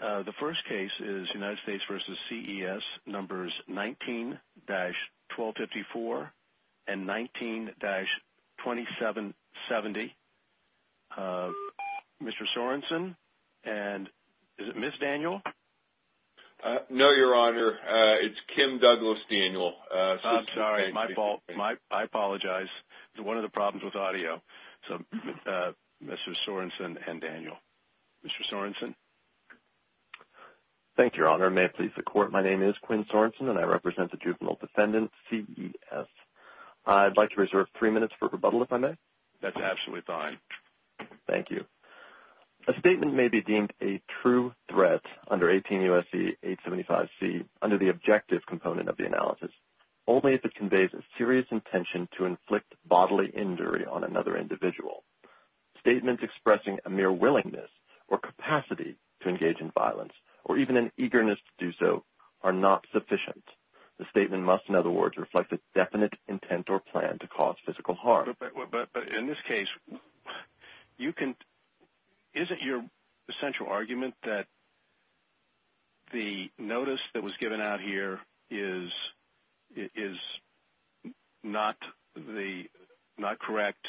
The first case is United States v. CES, numbers 19-1254 and 19-2770. Mr. Sorensen and... Is it Ms. Daniel? No, Your Honor. It's Kim Douglas Daniel. I'm sorry. My fault. I apologize. It's one of the problems with audio. So, Mr. Sorensen and Daniel. Mr. Sorensen? Thank you, Your Honor. May it please the Court, my name is Quinn Sorensen and I represent the juvenile defendant, CES. I'd like to reserve three minutes for rebuttal, if I may. That's absolutely fine. Thank you. A statement may be deemed a true threat under 18-USA v. 875C under the objective component of the analysis, only if it conveys a serious intention to inflict bodily injury on another individual. Statements expressing a mere willingness or capacity to engage in violence, or even an eagerness to do so, are not sufficient. The statement must, in other words, reflect a definite intent or plan to cause physical harm. But in this case, isn't your essential argument that the notice that was given out here is not correct?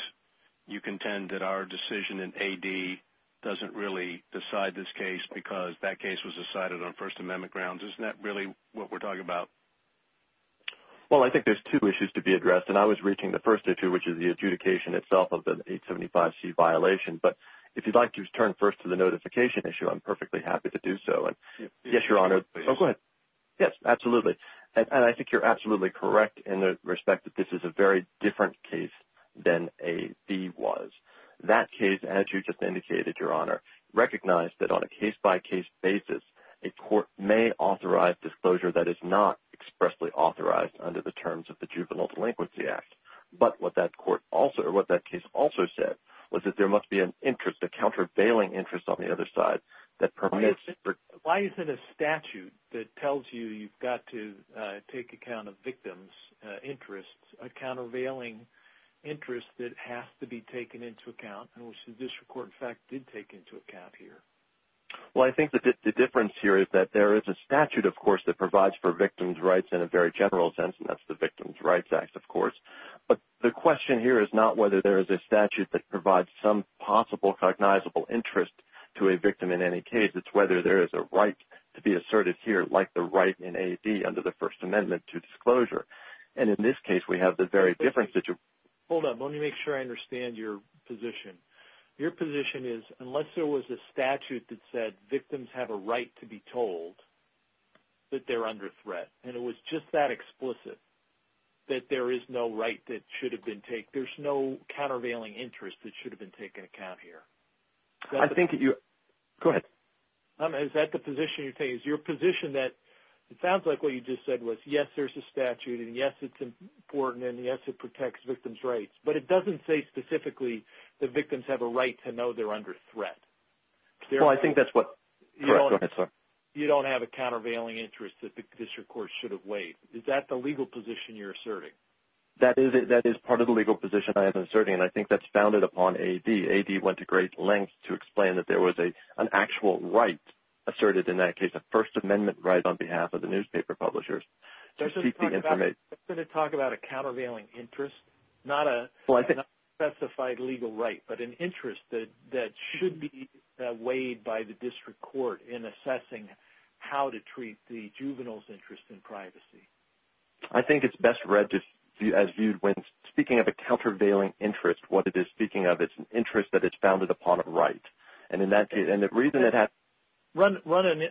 You contend that our decision in AD doesn't really decide this case because that case was decided on First Amendment grounds. Isn't that really what we're talking about? Well, I think there's two issues to be addressed, and I was reaching the first issue, which is the adjudication itself of the 875C violation. But if you'd like to turn first to the notification issue, I'm perfectly happy to do so. Yes, Your Honor. Yes, absolutely. And I think you're absolutely correct in the respect that this is a very different case than AD was. That case, as you just indicated, Your Honor, recognized that on a case-by-case basis, a court may authorize disclosure that is not expressly authorized under the terms of the Juvenile Delinquency Act. But what that case also said was that there must be an interest, a countervailing interest on the other side. Why is it a statute that tells you you've got to take account of victims' interests, a countervailing interest that has to be taken into account, and which this court, in fact, did take into account here? Well, I think the difference here is that there is a statute, of course, that provides for victims' rights in a very general sense, and that's the Victims' Rights Act, of course. But the question here is not whether there is a statute that provides some possible cognizable interest to a victim in any case. It's whether there is a right to be asserted here, like the right in AD under the First Amendment to disclosure. And in this case, we have the very different situation. Hold on. Let me make sure I understand your position. Your position is, unless there was a statute that said victims have a right to be told that they're under threat, and it was just that explicit, that there is no right that should have been taken, there's no countervailing interest that should have been taken into account here. I think that you... Go ahead. Is that the position you're taking? Is your position that it sounds like what you just said was, yes, there's a statute, and yes, it's important, and yes, it protects victims' rights, but it doesn't say specifically that victims have a right to know they're under threat. Well, I think that's what... Go ahead, sir. You don't have a countervailing interest that the district court should have weighed. Is that the legal position you're asserting? That is part of the legal position I am asserting, and I think that's founded upon AD. AD went to great lengths to explain that there was an actual right asserted in that case, a First Amendment right on behalf of the newspaper publishers to seek the information. I was going to talk about a countervailing interest, not a specified legal right, but an interest that should be weighed by the district court in assessing how to treat the juvenile's interest in privacy. I think it's best read as viewed when speaking of a countervailing interest, what it is speaking of, it's an interest that is founded upon a right. And in that case... Run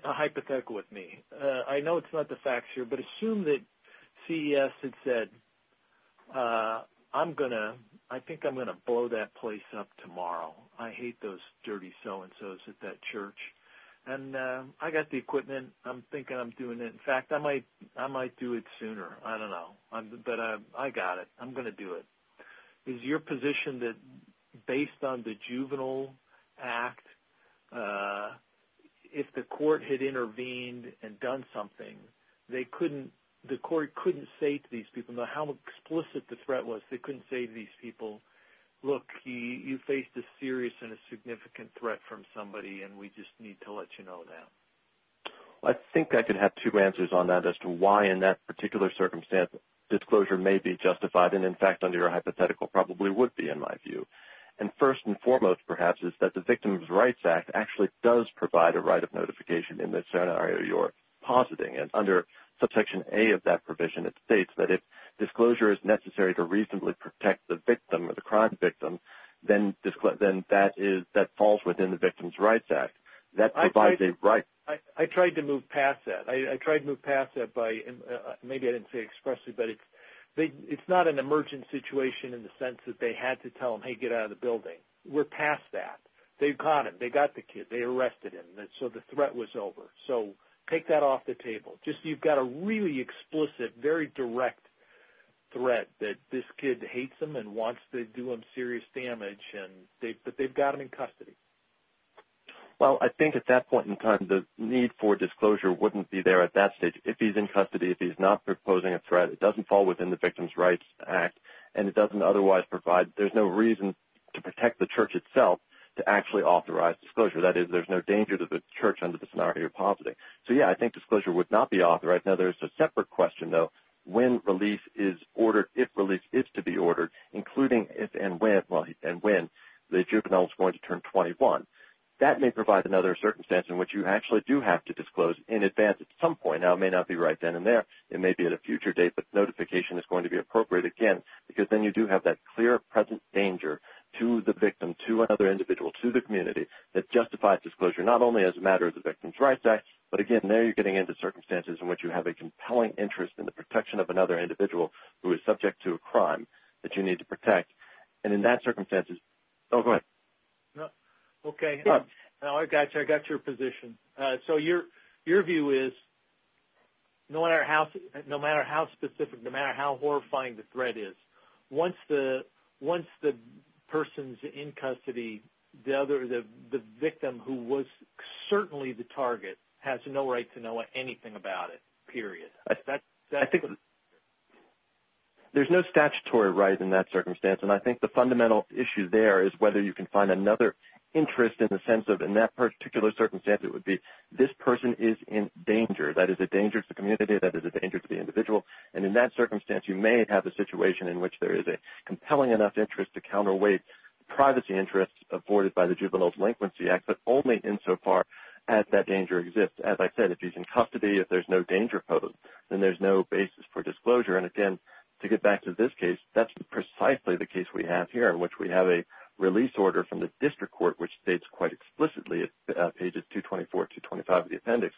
a hypothetical with me. I know it's not the facts here, but assume that CES had said, I think I'm going to blow that place up tomorrow. I hate those dirty so-and-sos at that church. And I got the equipment. I'm thinking I'm doing it. In fact, I might do it sooner. I don't know, but I got it. I'm going to do it. Is your position that based on the Juvenile Act, if the court had intervened and done something, the court couldn't say to these people, no matter how explicit the threat was, they couldn't say to these people, look, you faced a serious and a significant threat from somebody, and we just need to let you know now? I think I could have two answers on that as to why in that particular circumstance disclosure may be justified, and in fact, under your hypothetical, probably would be, in my view. And first and foremost, perhaps, is that the Victims' Rights Act actually does provide a right of notification in the scenario you're positing. And under Subsection A of that provision, it states that if disclosure is necessary to reasonably protect the victim or the crime victim, then that falls within the Victims' Rights Act. That provides a right. I tried to move past that. I tried to move past that by – maybe I didn't say it expressly, but it's not an emergent situation in the sense that they had to tell them, hey, get out of the building. We're past that. They caught him. They got the kid. So you've got a really explicit, very direct threat that this kid hates them and wants to do them serious damage, but they've got him in custody. Well, I think at that point in time, the need for disclosure wouldn't be there at that stage. If he's in custody, if he's not proposing a threat, it doesn't fall within the Victims' Rights Act, and it doesn't otherwise provide – there's no reason to protect the church itself to actually authorize disclosure. That is, there's no danger to the church under the scenario you're positing. So, yeah, I think disclosure would not be authorized. Now, there's a separate question, though. When release is ordered, if release is to be ordered, including if and when the juvenile is going to turn 21. That may provide another circumstance in which you actually do have to disclose in advance at some point. Now, it may not be right then and there. It may be at a future date, but notification is going to be appropriate again, because then you do have that clear, present danger to the victim, to another individual, to the community, that justifies disclosure not only as a matter of the Victims' Rights Act but, again, there you're getting into circumstances in which you have a compelling interest in the protection of another individual who is subject to a crime that you need to protect. And in that circumstances – oh, go ahead. Okay. I got you. I got your position. So your view is, no matter how specific, no matter how horrifying the threat is, once the person's in custody, the victim who was certainly the target has no right to know anything about it, period. I think there's no statutory right in that circumstance. And I think the fundamental issue there is whether you can find another interest in the sense of, in that particular circumstance, it would be, this person is in danger. That is a danger to the community. That is a danger to the individual. And in that circumstance, you may have a situation in which there is a compelling enough interest to counterweight the privacy interest afforded by the Juvenile Delinquency Act, but only insofar as that danger exists. As I said, if he's in custody, if there's no danger posed, then there's no basis for disclosure. And, again, to get back to this case, that's precisely the case we have here, in which we have a release order from the district court which states quite explicitly, pages 224 to 225 of the appendix,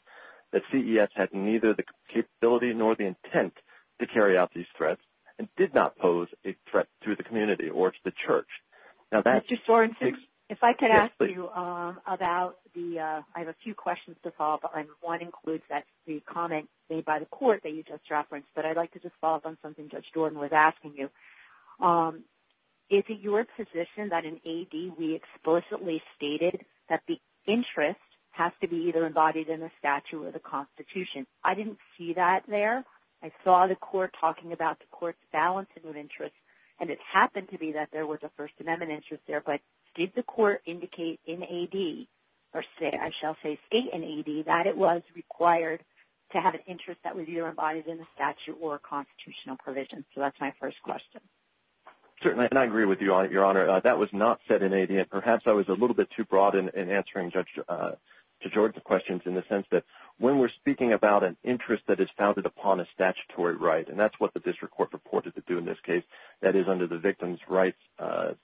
that CES had neither the capability nor the intent to carry out these threats and did not pose a threat to the community or to the church. Mr. Sorensen, if I could ask you about the... Yes, please. I have a few questions to follow up on. One includes the comment made by the court that you just referenced, but I'd like to just follow up on something Judge Jordan was asking you. Is it your position that in AD, we explicitly stated that the interest has to be either embodied in the statute or the Constitution? I didn't see that there. I saw the court talking about the court's balance of interest, and it happened to be that there was a First Amendment interest there, but did the court indicate in AD, or I shall say state in AD, that it was required to have an interest that was either embodied in the statute or a constitutional provision? So that's my first question. Certainly, and I agree with you, Your Honor. That was not said in AD, and perhaps I was a little bit too broad in answering Judge Jordan's questions in the sense that when we're speaking about an interest that is founded upon a statutory right, and that's what the district court reported to do in this case, that is under the victim's rights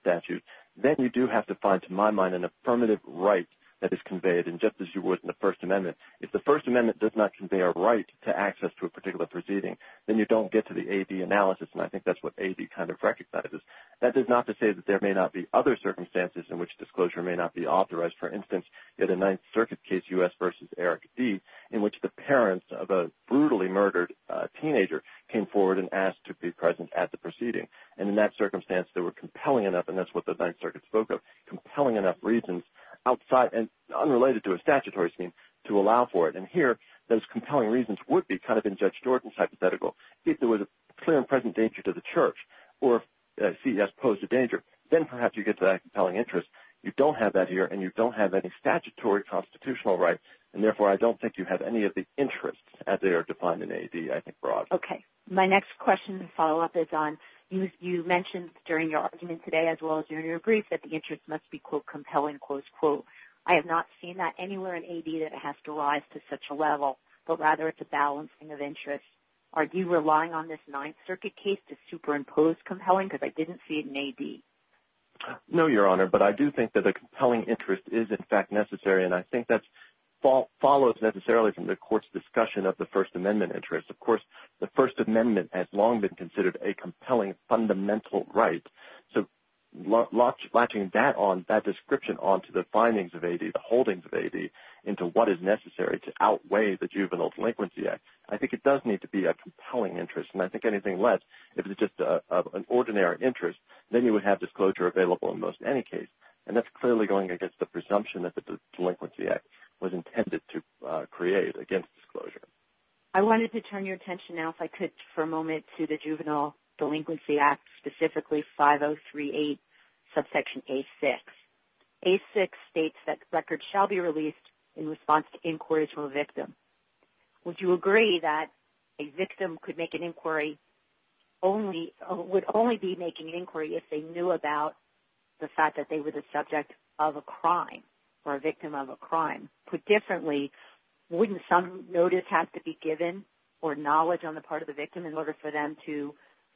statute, then you do have to find, to my mind, an affirmative right that is conveyed. And just as you would in the First Amendment, if the First Amendment does not convey a right to access to a particular proceeding, then you don't get to the AD analysis, and I think that's what AD kind of recognizes. That is not to say that there may not be other circumstances in which disclosure may not be authorized. For instance, you had a Ninth Circuit case, U.S. v. Eric D., in which the parents of a brutally murdered teenager came forward and asked to be present at the proceeding. And in that circumstance, they were compelling enough, and that's what the Ninth Circuit spoke of, compelling enough reasons outside and unrelated to a statutory scheme to allow for it. And here, those compelling reasons would be kind of in Judge Jordan's hypothetical. If there was a clear and present danger to the church or if CES posed a danger, then perhaps you get that compelling interest. You don't have that here, and you don't have any statutory constitutional right, and therefore I don't think you have Okay, my next question to follow up is on, you mentioned during your argument today as well as during your brief that the interest must be, quote, compelling, close quote. I have not seen that anywhere in AD that it has to rise to such a level, but rather it's a balancing of interests. Are you relying on this Ninth Circuit case to superimpose compelling, because I didn't see it in AD? No, Your Honor, but I do think that a compelling interest is in fact necessary, and I think that follows necessarily that this amendment has long been considered a compelling fundamental right. So latching that description onto the findings of AD, the holdings of AD, into what is necessary to outweigh the Juvenile Delinquency Act, I think it does need to be a compelling interest, and I think anything less, if it's just an ordinary interest, then you would have disclosure available in most any case, and that's clearly going against the presumption that the Delinquency Act was intended to create against disclosure. I want to switch for a moment to the Juvenile Delinquency Act, specifically 5038 subsection A6. A6 states that records shall be released in response to inquiries from a victim. Would you agree that a victim could make an inquiry, would only be making an inquiry if they knew about the fact that they were the subject of a crime, or a victim of a crime? Put differently, wouldn't some notice have to be given or knowledge on the part of the victim in order for them to,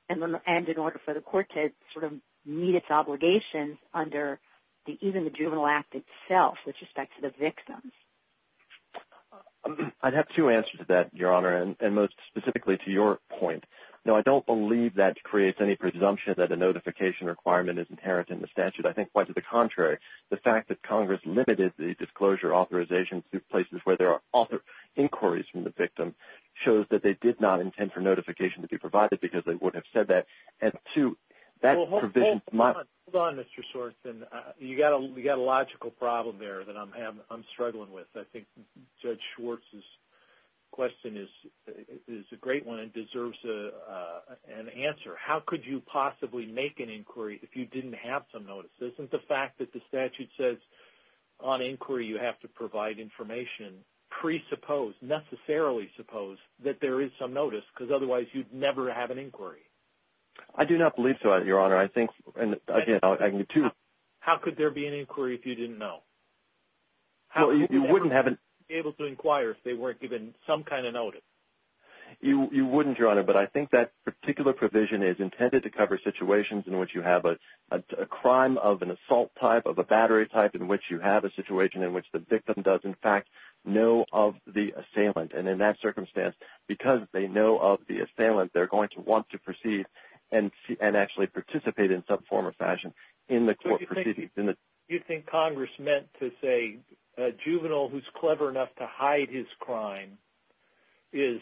and in order for the court to meet its obligations under even the Juvenile Act itself with respect to the victims? I'd have two answers to that, Your Honor, and most specifically to your point. No, I don't believe that creates any presumption that a notification requirement is inherent in the statute. I think quite to the contrary, the fact that Congress limited the disclosure authorization to places where there are inquiries from the victim shows that they did not intend for notification to be provided because they wouldn't have said that. And two, that provision... Hold on, Mr. Schwartz. You got a logical problem there that I'm struggling with. I think Judge Schwartz's question is a great one and deserves an answer. How could you possibly make an inquiry if you didn't have some notice? Isn't the fact that the statute says on inquiry you have to provide information presuppose, necessarily suppose that there is some notice because otherwise you'd never have an inquiry. I do not believe so, Your Honor. I think... How could there be an inquiry if you didn't know? You wouldn't have... You wouldn't be able to inquire if they weren't given some kind of notice. You wouldn't, Your Honor, but I think that particular provision is intended to cover situations in which you have a crime of an assault type, of a battery type, where they know of the assailant and in that circumstance because they know of the assailant they're going to want to proceed and actually participate in some form or fashion in the court proceedings. Do you think Congress meant to say a juvenile who's clever enough to hide his crime is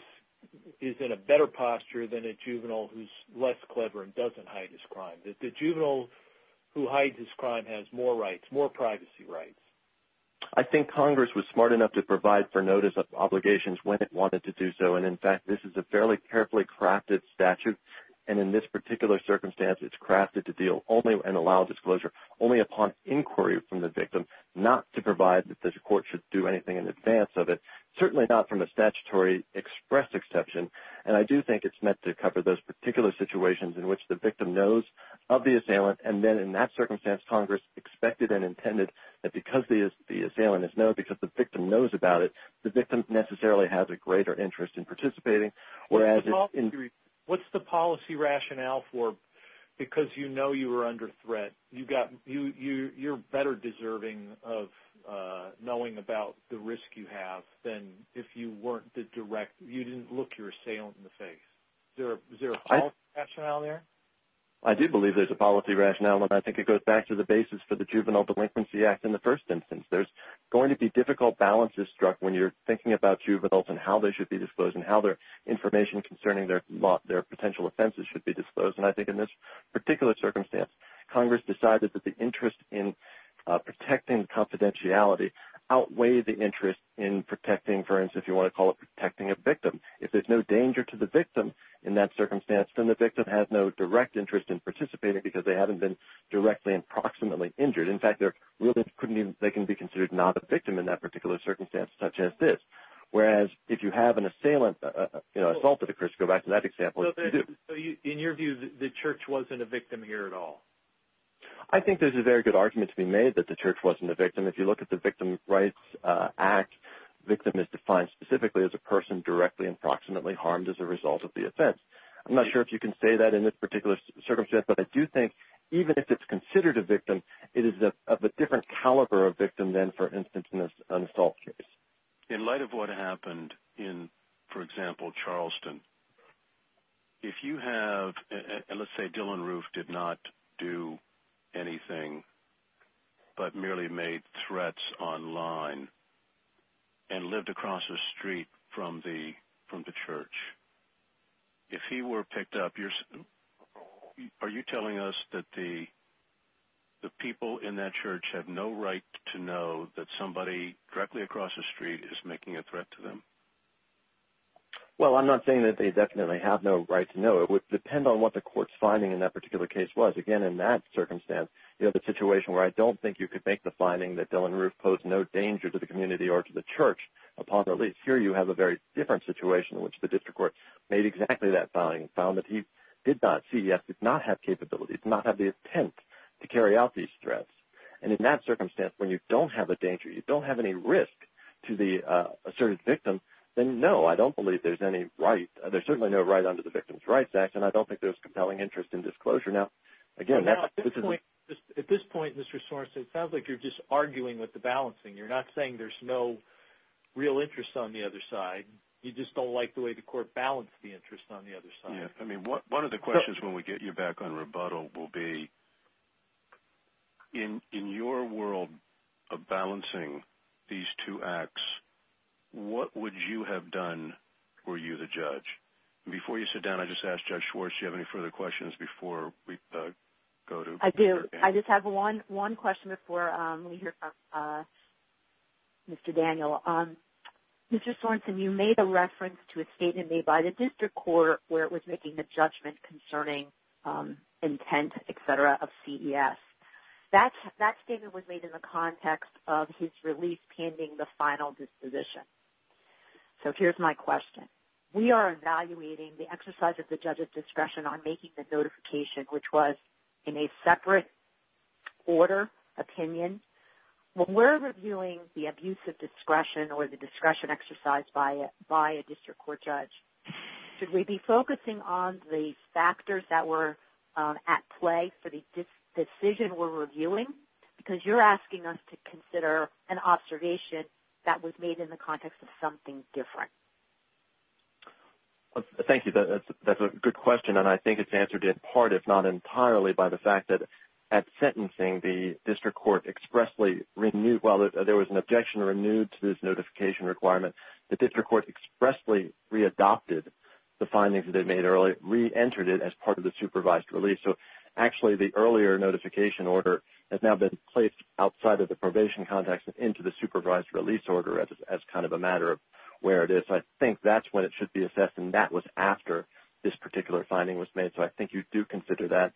in a better posture than a juvenile who's less clever and doesn't hide his crime? The juvenile who hides his crime has more rights, more privacy rights. I think Congress was smart enough to provide for notice of obligations when it wanted to do so and in fact this is a fairly carefully crafted statute and in this particular circumstance it's crafted to deal only and allow disclosure only upon inquiry from the victim not to provide that the court should do anything in advance of it. Certainly not from a statutory express exception and I do think it's meant to cover those particular situations in which the victim knows of the assailant and then in that circumstance Congress expected and intended that the victim necessarily has a greater interest in participating. What's the policy rationale for because you know you were under threat you're better deserving of knowing about the risk you have than if you weren't the direct you didn't look your assailant in the face. Is there a policy rationale there? I do believe there's a policy rationale and I think it goes back to the basis for the Juvenile Delinquency Act in the first instance. There's going to be difficult balances struck when you're thinking about juveniles and how they should be disclosed and how their information concerning their potential offenses should be disclosed and I think in this particular circumstance Congress decided that the interest in protecting confidentiality outweigh the interest in protecting for instance if you want to call it protecting a victim. If there's no danger to the victim in that circumstance then the victim has no direct interest in participating because they haven't been directly and proximately injured. That's such as this. Whereas if you have an assailant assault that occurs go back to that example. So in your view the church wasn't a victim here at all? I think there's a very good argument to be made that the church wasn't a victim. If you look at the Victim Rights Act victim is defined specifically as a person directly and proximately harmed as a result of the offense. I'm not sure if you can say that in this particular circumstance but I do think even if it's considered a victim it is of a different caliber of victim in light of what happened in for example Charleston. If you have let's say Dylann Roof did not do anything but merely made threats online and lived across the street from the church. If he were picked up are you telling us that the people in that church have no right to know that somebody directly across the street is making a threat to them? Well I'm not saying that they definitely have no right to know. It would depend on what the court's finding in that particular case was. Again in that circumstance you have a situation where I don't think you could make the finding that Dylann Roof posed no danger to the community or to the church upon release. Here you have a very different situation in which the district court made exactly that finding and found that he did not see any danger to the asserted victim. Then no I don't believe there's any right. There's certainly no right under the Victim's Rights Act and I don't think there's compelling interest in disclosure. At this point Mr. Sorensen it sounds like you're just arguing with the balancing. You're not saying there's no real interest on the other side. You just don't like the way the court balanced the interest on the other side. One of the questions when we get you back on rebuttal will be what would you have done were you the judge? Before you sit down I just ask Judge Schwartz do you have any further questions before we go to... I do. I just have one question before we hear from Mr. Daniel. Mr. Sorensen you made a reference to a statement made by the district court where it was making a judgment concerning intent etc. of CES. That statement was made in the context of his release pending the final disposition. So here's my question. We are evaluating the exercise of the judge's discretion on making the notification which was in a separate order opinion. When we're reviewing the abuse of discretion or the discretion exercise by a district court judge should we be focusing on the factors that were at play for the decision we're reviewing? Because you're asking us to consider an observation that was made in the context of something different. Thank you. That's a good question and I think it's answered in part if not entirely by the fact that at sentencing the district court expressly renewed, well there was an objection renewed to this notification requirement. The district court expressly readopted the findings that they made earlier, reentered it as part of the supervised release. So actually the earlier notification order has now been placed outside of the probation context and into the supervised release order as kind of a matter of where it is. I think that's when it should be assessed and that was after this particular finding was made. So I think you do consider that.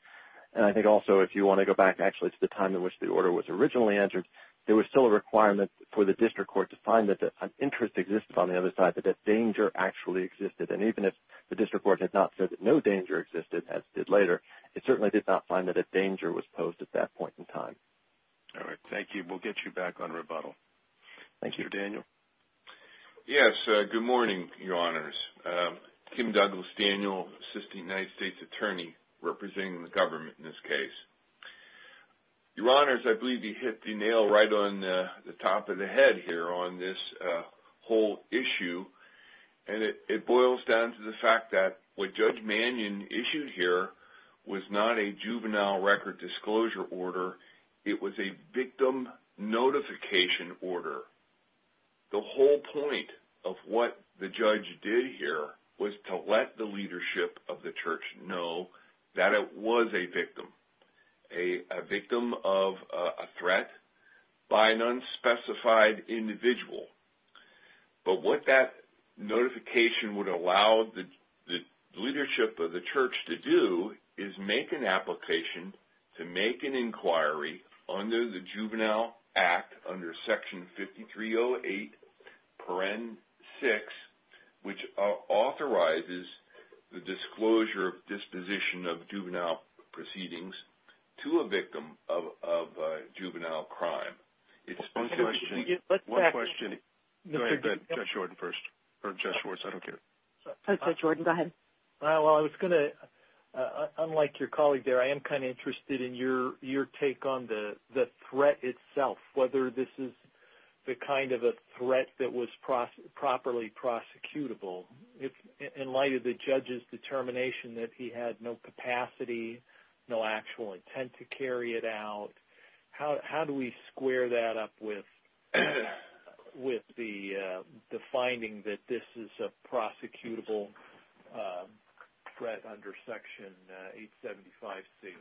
And I think also if you want to go back actually to the time in which the order was originally entered there was still a requirement for the district court to find that an interest existed on the other side but that danger actually existed. And even if the district court did not find that danger it would still be a matter of time. All right, thank you. We'll get you back on rebuttal. Thank you. Mr. Daniel. Yes, good morning, Your Honors. Kim Douglas Daniel, Assistant United States Attorney representing the government in this case. Your Honors, I believe you hit the nail right on the top of the head here on this whole issue. And it boils down to the fact that what Judge Mannion issued here was not a juvenile record disclosure order. It was a victim notification order. The whole point of what the judge did here was to let the leadership of the church know that it was a victim. A victim of a threat by an unspecified individual. But what that notification would allow the leadership of the church to do is make an application to make an inquiry under the Juvenile Act under Section 5308.6 which authorizes the disclosure of disposition of juvenile proceedings to a victim of juvenile crime. One question. Go ahead, Judge Jordan first. Or Judge Schwartz, I don't care. Judge Jordan, go ahead. Well, I was going to, unlike your colleague there, I am kind of interested in your take on the threat itself. Whether this is the kind of a threat that was properly prosecutable. In light of the judge's determination that he had no capacity, no actual intent to carry it out, how do we square that up with the finding that this is a prosecutable threat under Section 875C?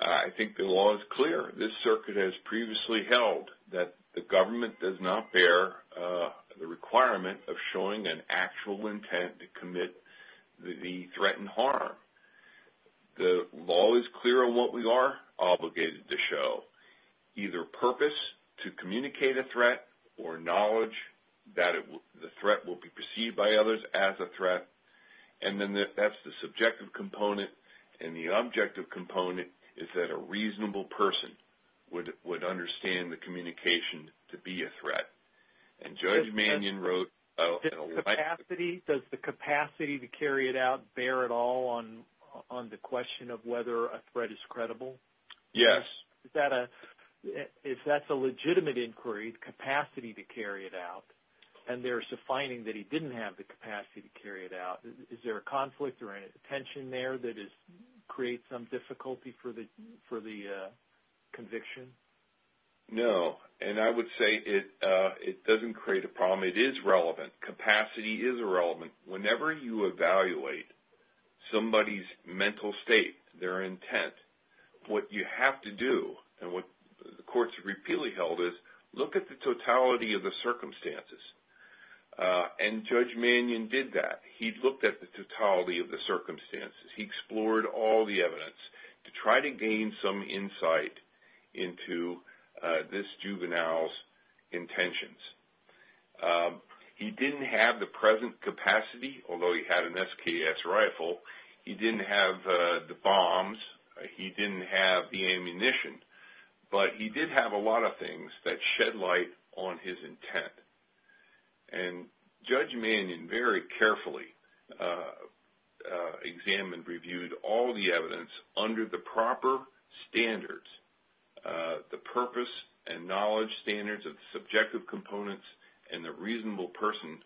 I think the law is clear. This circuit has previously held that the government does not bear the requirement of showing an actual intent to commit the threatened harm. The law is clear on what we are obligated to show. or knowledge that the threat will be perceived by others as a threat and that is the subjective component. The objective component is that a reasonable person would understand the communication to be a threat. Judge Mannion wrote... Does the capacity to carry it out bear at all on the question of whether a threat is credible? Yes. If that is a legitimate inquiry, the capacity to carry it out, and there is a finding that he didn't have the capacity to carry it out, is there a conflict or a tension there that creates some difficulty for the conviction? No. And I would say it doesn't create a problem. It is relevant. Capacity is relevant. Whenever you evaluate somebody's mental state, their intent, what you have to do and what the courts have to do is look at the totality of the circumstances. He explored all the evidence to try to gain some insight into this juvenile's intentions. He didn't have the present capacity, although he had an SKS rifle. He didn't have the bombs. He didn't have the ammunition. But he did have a lot of things that shed light on his intent. And Judge Mannion examined, reviewed all the evidence under the proper standards, the purpose and knowledge standards of the subjective components and the reasonable person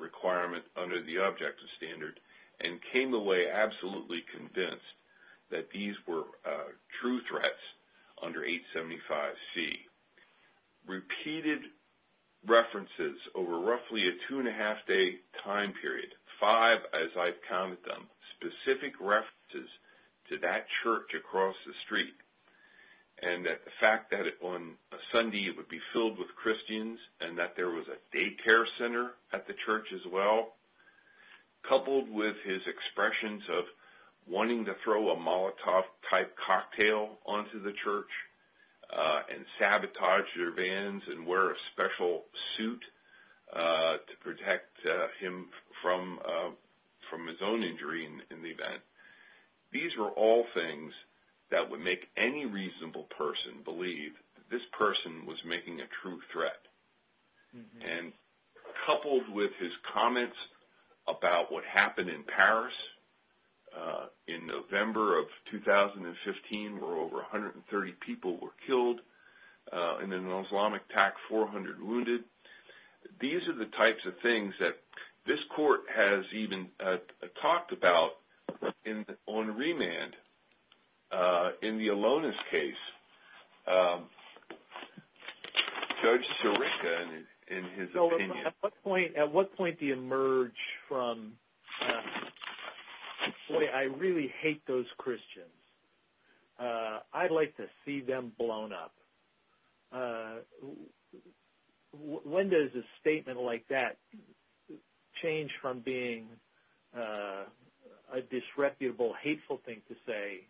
requirement under the objective standard and came away absolutely convinced that these were true threats under 875C. Repeated references over roughly a two and a half day time period, five as I've counted them, specific references to that church across the street and that the fact that on a Sunday it would be filled with Christians and that there was a daycare center at the church as well, coupled with his expressions of wanting to throw a Molotov type cocktail onto the church and sabotage their vans and wear a special suit to protect him from his own injury in the event. These were all things that would make any reasonable person believe this person was making a true threat. And coupled with his comments about what happened in Paris in November of 2015 where over 130 people were killed and an Islamic attack, 400 wounded. These are the types of things that this court has even talked about on remand in the Alonis case. Judge Sirica, in his opinion... At what point do you emerge from boy, I really hate those Christians. I'd like to see them blown up. When does a statement like that change from being a disreputable, hateful thing to say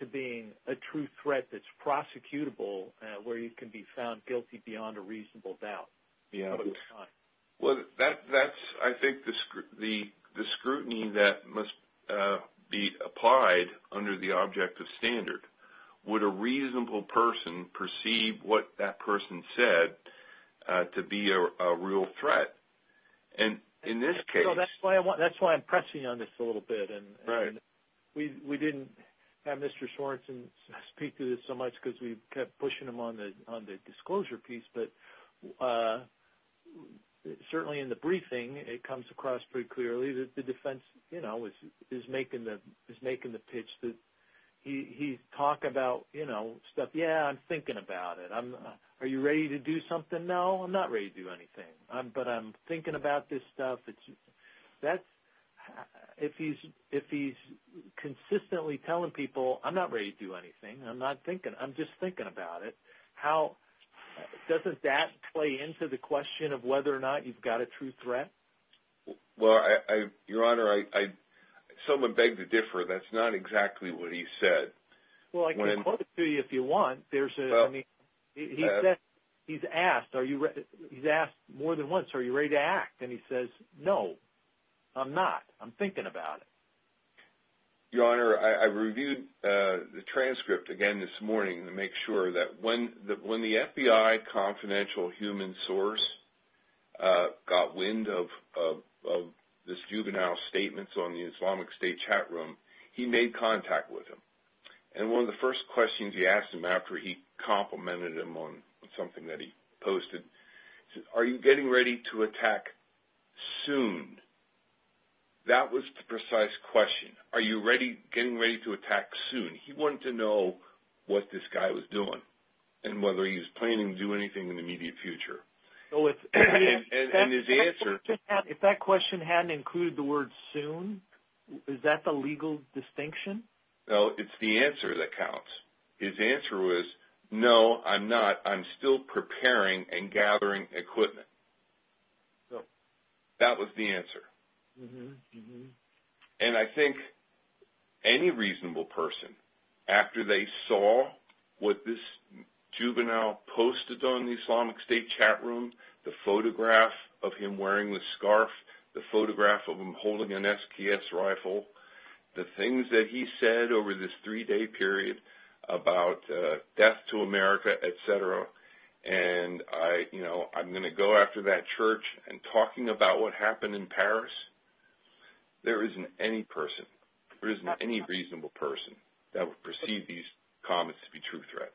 to being a true threat that's prosecutable where you can be found guilty beyond a reasonable doubt? That's, I think, the scrutiny that must be applied under the object of standard. Would a reasonable person perceive what that person said to be a threat? In this case... That's why I'm pressing on this a little bit. We didn't have Mr. Sorensen speak to this so much because we kept pushing him on the disclosure piece. Certainly in the briefing it comes across pretty clearly that the defense is making the pitch that he's talking about stuff. Yeah, I'm thinking about it. Are you ready to do something? No, I'm not ready to do anything. But I'm thinking about this stuff. If he's consistently telling people, I'm not ready to do anything. I'm just thinking about it. Doesn't that play into the question of whether or not you've got a true threat? Your Honor, someone begged to differ. That's not exactly what he said. Well, I can quote it to you if you want. He's asked more than once, are you ready to act? And he says, no, I'm not. I'm thinking about it. Your Honor, I reviewed the transcript again this morning to make sure that when the FBI confidential human source got wind of the juvenile statements on the Islamic State chat forum, he made contact with him. And one of the first questions he asked him after he complimented him on something that he posted, he said, are you getting ready to attack soon? That was the precise question. Are you getting ready to attack soon? He wanted to know what this guy was doing and whether he was planning to do anything in the immediate future. And his answer If that question hadn't included the word soon, is that the legal distinction? No, it's the answer that counts. His answer was, no, I'm not. I'm still preparing and gathering equipment. That was the answer. And I think any reasonable person after they saw what this juvenile posted on the Islamic State chat room, the photograph of him wearing the scarf, the photograph of him holding an SKS rifle, the things that he said over this three-day period about death to America, et cetera, and I'm going to go after that church and talking about what happened in Paris. There isn't any person, there isn't any reasonable person that would perceive these comments to be true threats.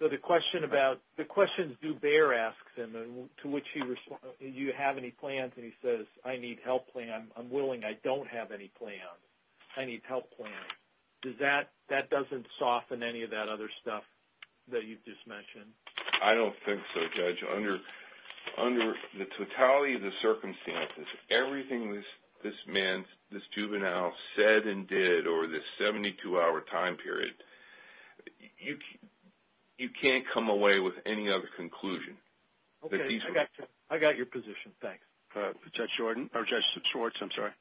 So the question Zubair asks him, to which he responds, do you have any plans? And he says, I need health plans. I'm willing, I don't have any plans. I need health plans. Does that, that doesn't soften any of that other stuff that you've just mentioned? I don't think so, Judge. Under the totality of the circumstances, everything this man, this juvenile said and did over this 72 hour time period, you can't come away with any other conclusion. Okay, I got you. I got your position. Thanks. Judge Jordan? Oh, Judge Swartz, I'm sorry.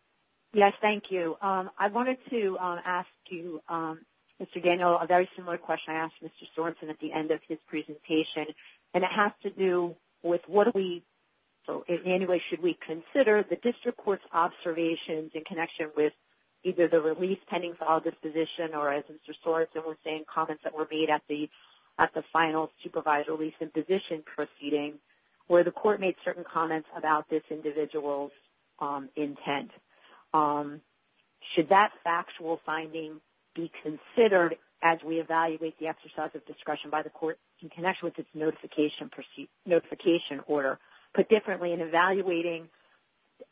Yes, thank you. I wanted to ask you, Mr. Daniel, a very similar question I asked Mr. Sorensen at the end of his presentation, and it has to do with what do we, in any way, should we consider the district court's observations in connection with either the release pending for all disposition or as Mr. Sorensen was saying, comments that were made at the final supervisor release and disposition proceeding where the court made certain comments about this individual's intent. Should that factual finding be considered as we evaluate the exercise of discretion by the court in connection with its notification order? Put differently, in evaluating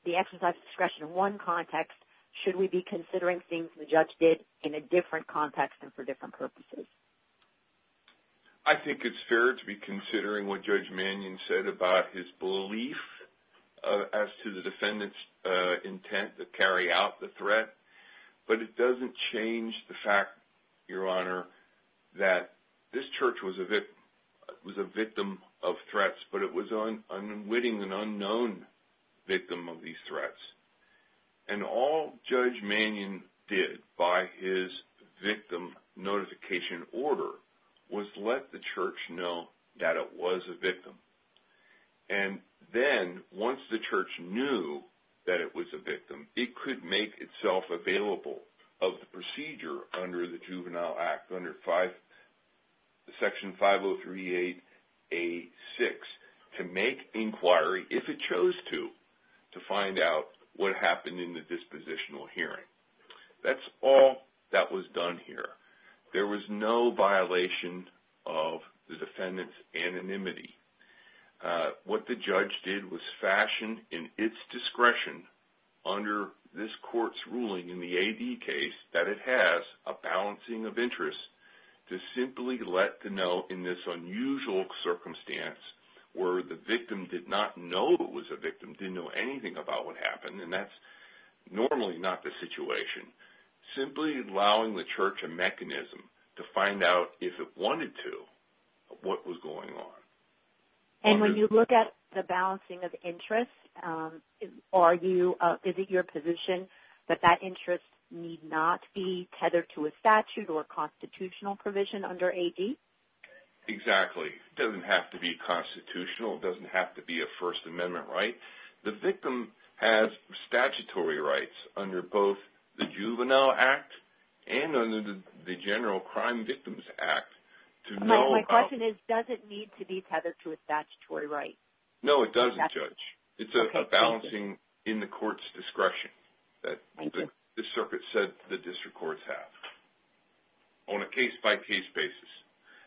the exercise of discretion in one context, should we be considering things the judge did in a different context and for different purposes? I think it's fair to be considering what Judge Manion said about his belief as to the defendant's intent to carry out the threat, but it doesn't change the fact, Your Honor, that this church was a victim of threats, but it was unwitting and unknown victim of these threats. And all Judge Manion did by his victim notification order was let the church know that it was a victim. And then, once the church knew that it was a victim, it could make itself available of the procedure under the Juvenile Act, under Section 5038A6, to make inquiry, if it chose to, to find out what happened in the dispositional hearing. That's all that was done here. There was no violation of the defendant's anonymity. What the judge did was fashion in its discretion under this court's ruling in the AD case that it has a balancing of interests to simply let to know in this unusual circumstance where the victim did not know it was a victim, didn't know anything about what happened, and that's normally not the situation. Simply allowing the church a mechanism to find out if it did not know what was going on. And when you look at the balancing of interests, is it your position that that interest need not be tethered to a statute or constitutional provision under AD? Exactly. It doesn't have to be constitutional. It doesn't have to be a First Amendment right. The victim has statutory rights under both the Juvenile Act and under the General Crime Victims Act to know about... My question is, does it need to be tethered to a statutory right? No, it doesn't, Judge. It's a balancing in the court's discretion that the circuit said the district courts have on a case-by-case basis.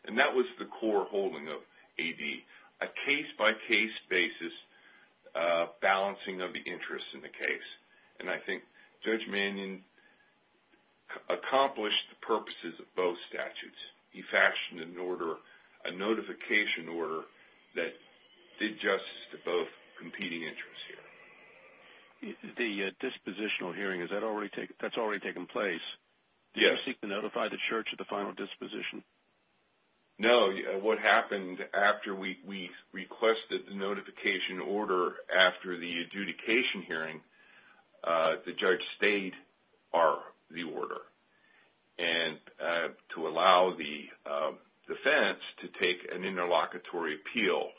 And that was the core holding of AD, a case-by-case basis balancing of the interests in the case. And I think Judge Mannion accomplished the purposes of both statutes. He fashioned an order, a notification order that did justice to both competing interests here. The dispositional hearing, that's already taken place. Yes. Did you seek to notify the church of the final disposition? No. What happened after we requested the notification order after the adjudication hearing, the judge stated, are the order. And to allow the defense to take an interlocutory appeal.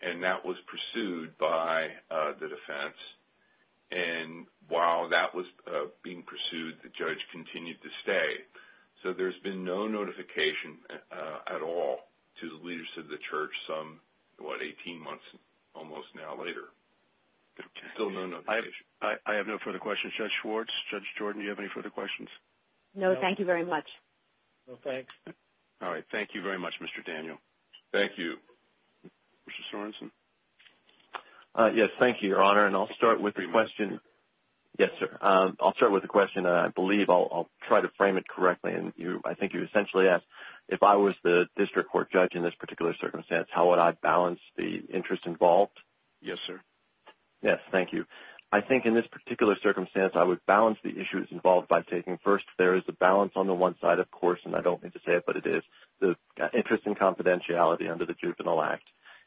And that was pursued by the defense. And while that was being pursued, the judge continued to stay. So there's been no notification at all to the leadership of the church some, what, 18 months, almost now, later. Still no notification. I have no further questions. Judge Schwartz, Judge Jordan, do you have any further questions? No, thank you very much. No, thanks. All right. Thank you very much, Mr. Daniel. Thank you. Mr. Sorensen? Yes, thank you, Your Honor. And I'll start with the question. Yes, sir. I'll start with the question. I believe I'll try to frame it correctly. I think you essentially asked, if I was the district court judge in this particular circumstance, how would I balance the issues involved by taking first there is a balance on the one side, of course, and I don't mean to say it, but it is, the interest in confidentiality under the Juvenile Act.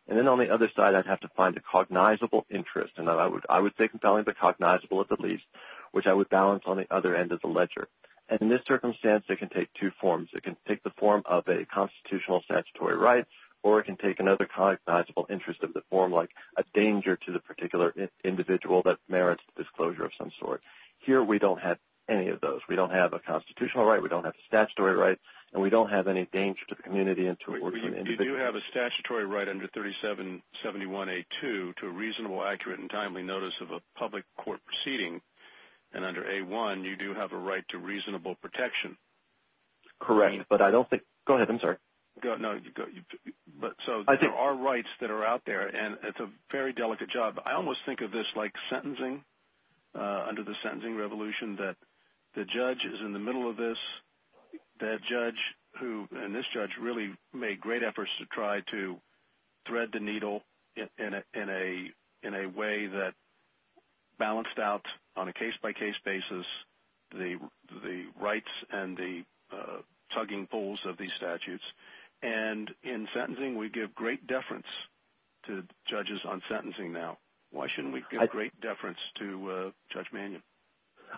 And then on the other side, I'd have to find a cognizable interest. And I would say cognizable at the least, which I would balance on the other end of the ledger. And in this circumstance, it can take two forms. It can take the form of a constitutional statutory right, or it can take another cognizable interest of the form, like a danger to the particular individual that merits disclosure of some sort. Here, we don't have any of those. We don't have a constitutional right, we don't have a right to reasonable protection. But there are rights that are out there, and it's a very delicate job. I almost think of this like sentencing, under the sentencing revolution, that the judge is in the middle of this, and this judge really made great efforts to try to thread the needle in a way that balanced out on a case-by-case basis the rights and the tugging pulls of these statutes. And in sentencing, we give great deference to judges on sentencing now. Why shouldn't we give great deference to Judge Mannion?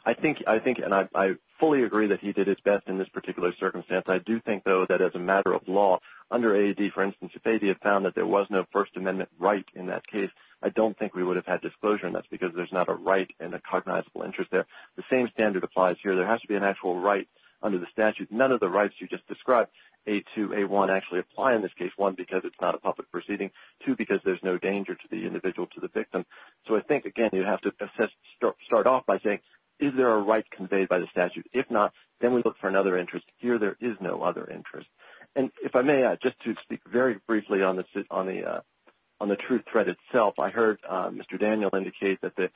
I think, and I fully agree that he did his best in this particular circumstance. I do think, though, that as a matter of law, under AAD, for instance, if AAD had found that there was no First Amendment right in that case, I don't think we would have had disclosure and that's because there's not a right and a cognizable interest there. The same standard applies here. There has to be an actual right and a cognizable interest. And if I may, just to speak very briefly on the true threat itself, I heard Mr. Daniel indicate that the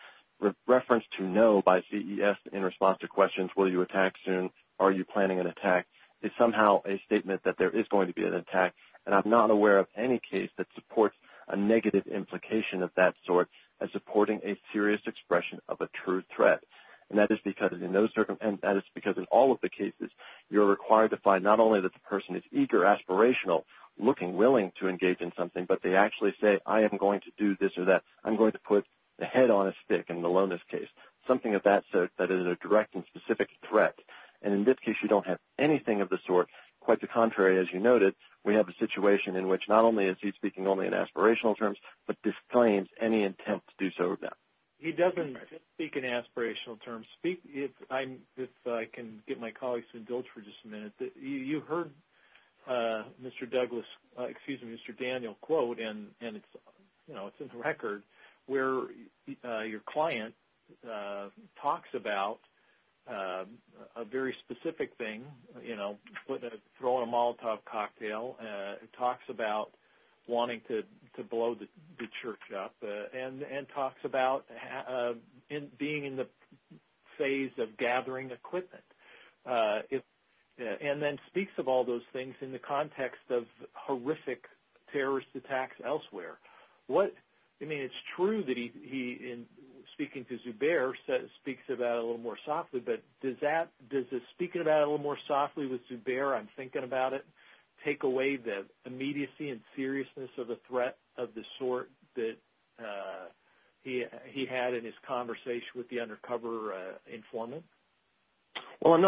reference to no by CES in response to questions will you attack soon, are you planning an attack, is somehow a statement that there is going to be an attack and I'm not aware of any case that supports a negative implication of that sort as supporting a serious expression of a true threat. And that is because in all of the cases you're required to find not only that the person is eager, aspirational, looking, willing to engage in something, but they don't have a clear intention in which not only is he speaking only in aspirational terms, but disclaims any intent to do so with that. He doesn't speak in aspirational terms. If I can get my colleagues to indulge for just a minute, you heard Mr. Douglas, excuse me, Mr. say a very specific thing, throwing a Molotov cocktail, talks about wanting to blow the church up, and talks about being in the phase of gathering equipment, and then speaks of all those things in the context of horrific terrorist attacks elsewhere. It's true that he, speaking to Zuber, speaks about it a little more softly, but does speaking about it a little more softly with Zuber, I'm thinking about it, take away the immediacy and seriousness of the threat of the sort that he had in his conversation with the undercover informant? Well,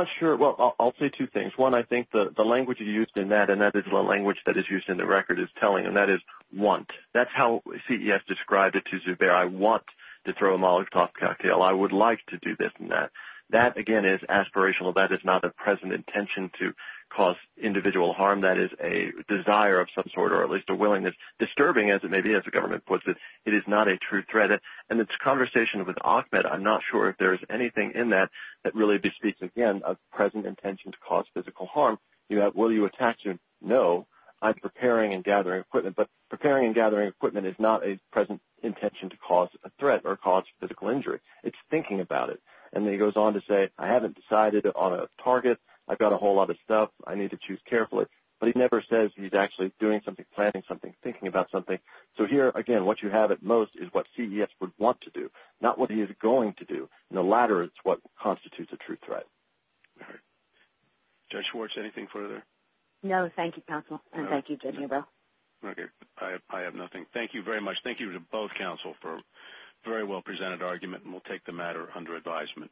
I'll say two things. One, I think the language used in that, and that is the language that is used in the record, is telling, and that is want. That's how CES described it to Zuber. I want to throw a Molotov cocktail. I would like to do this and that. That, again, is aspirational. That is not a present intention to cause individual physical harm. That is a desire of some sort, or at least a willingness. Disturbing, as it may be, as the government puts it. It is not a true threat. In his conversation with Ahmed, I'm not sure if there is anything in that that really bespeaks, again, a present intention to cause physical harm. Will you attack? No. I'm preparing and gathering equipment. Preparing and gathering equipment is not a present intention to cause a threat or physical injury. It is thinking about it. He goes on to say, I haven't decided on a target. I've got a whole lot of stuff. I need to choose carefully. But he never says he's actually doing something, planning something, thinking about something. So here, again, what you have at most is what CES would want to do, not what he is going to do. The latter is what constitutes a true threat. All right. Judge Schwartz, anything further? No. Thank you, counsel, and thank you to you both. Okay. I have nothing. Thank you very much. Thank you to both counsel for a very well-presented argument, and we'll take the matter under advisement.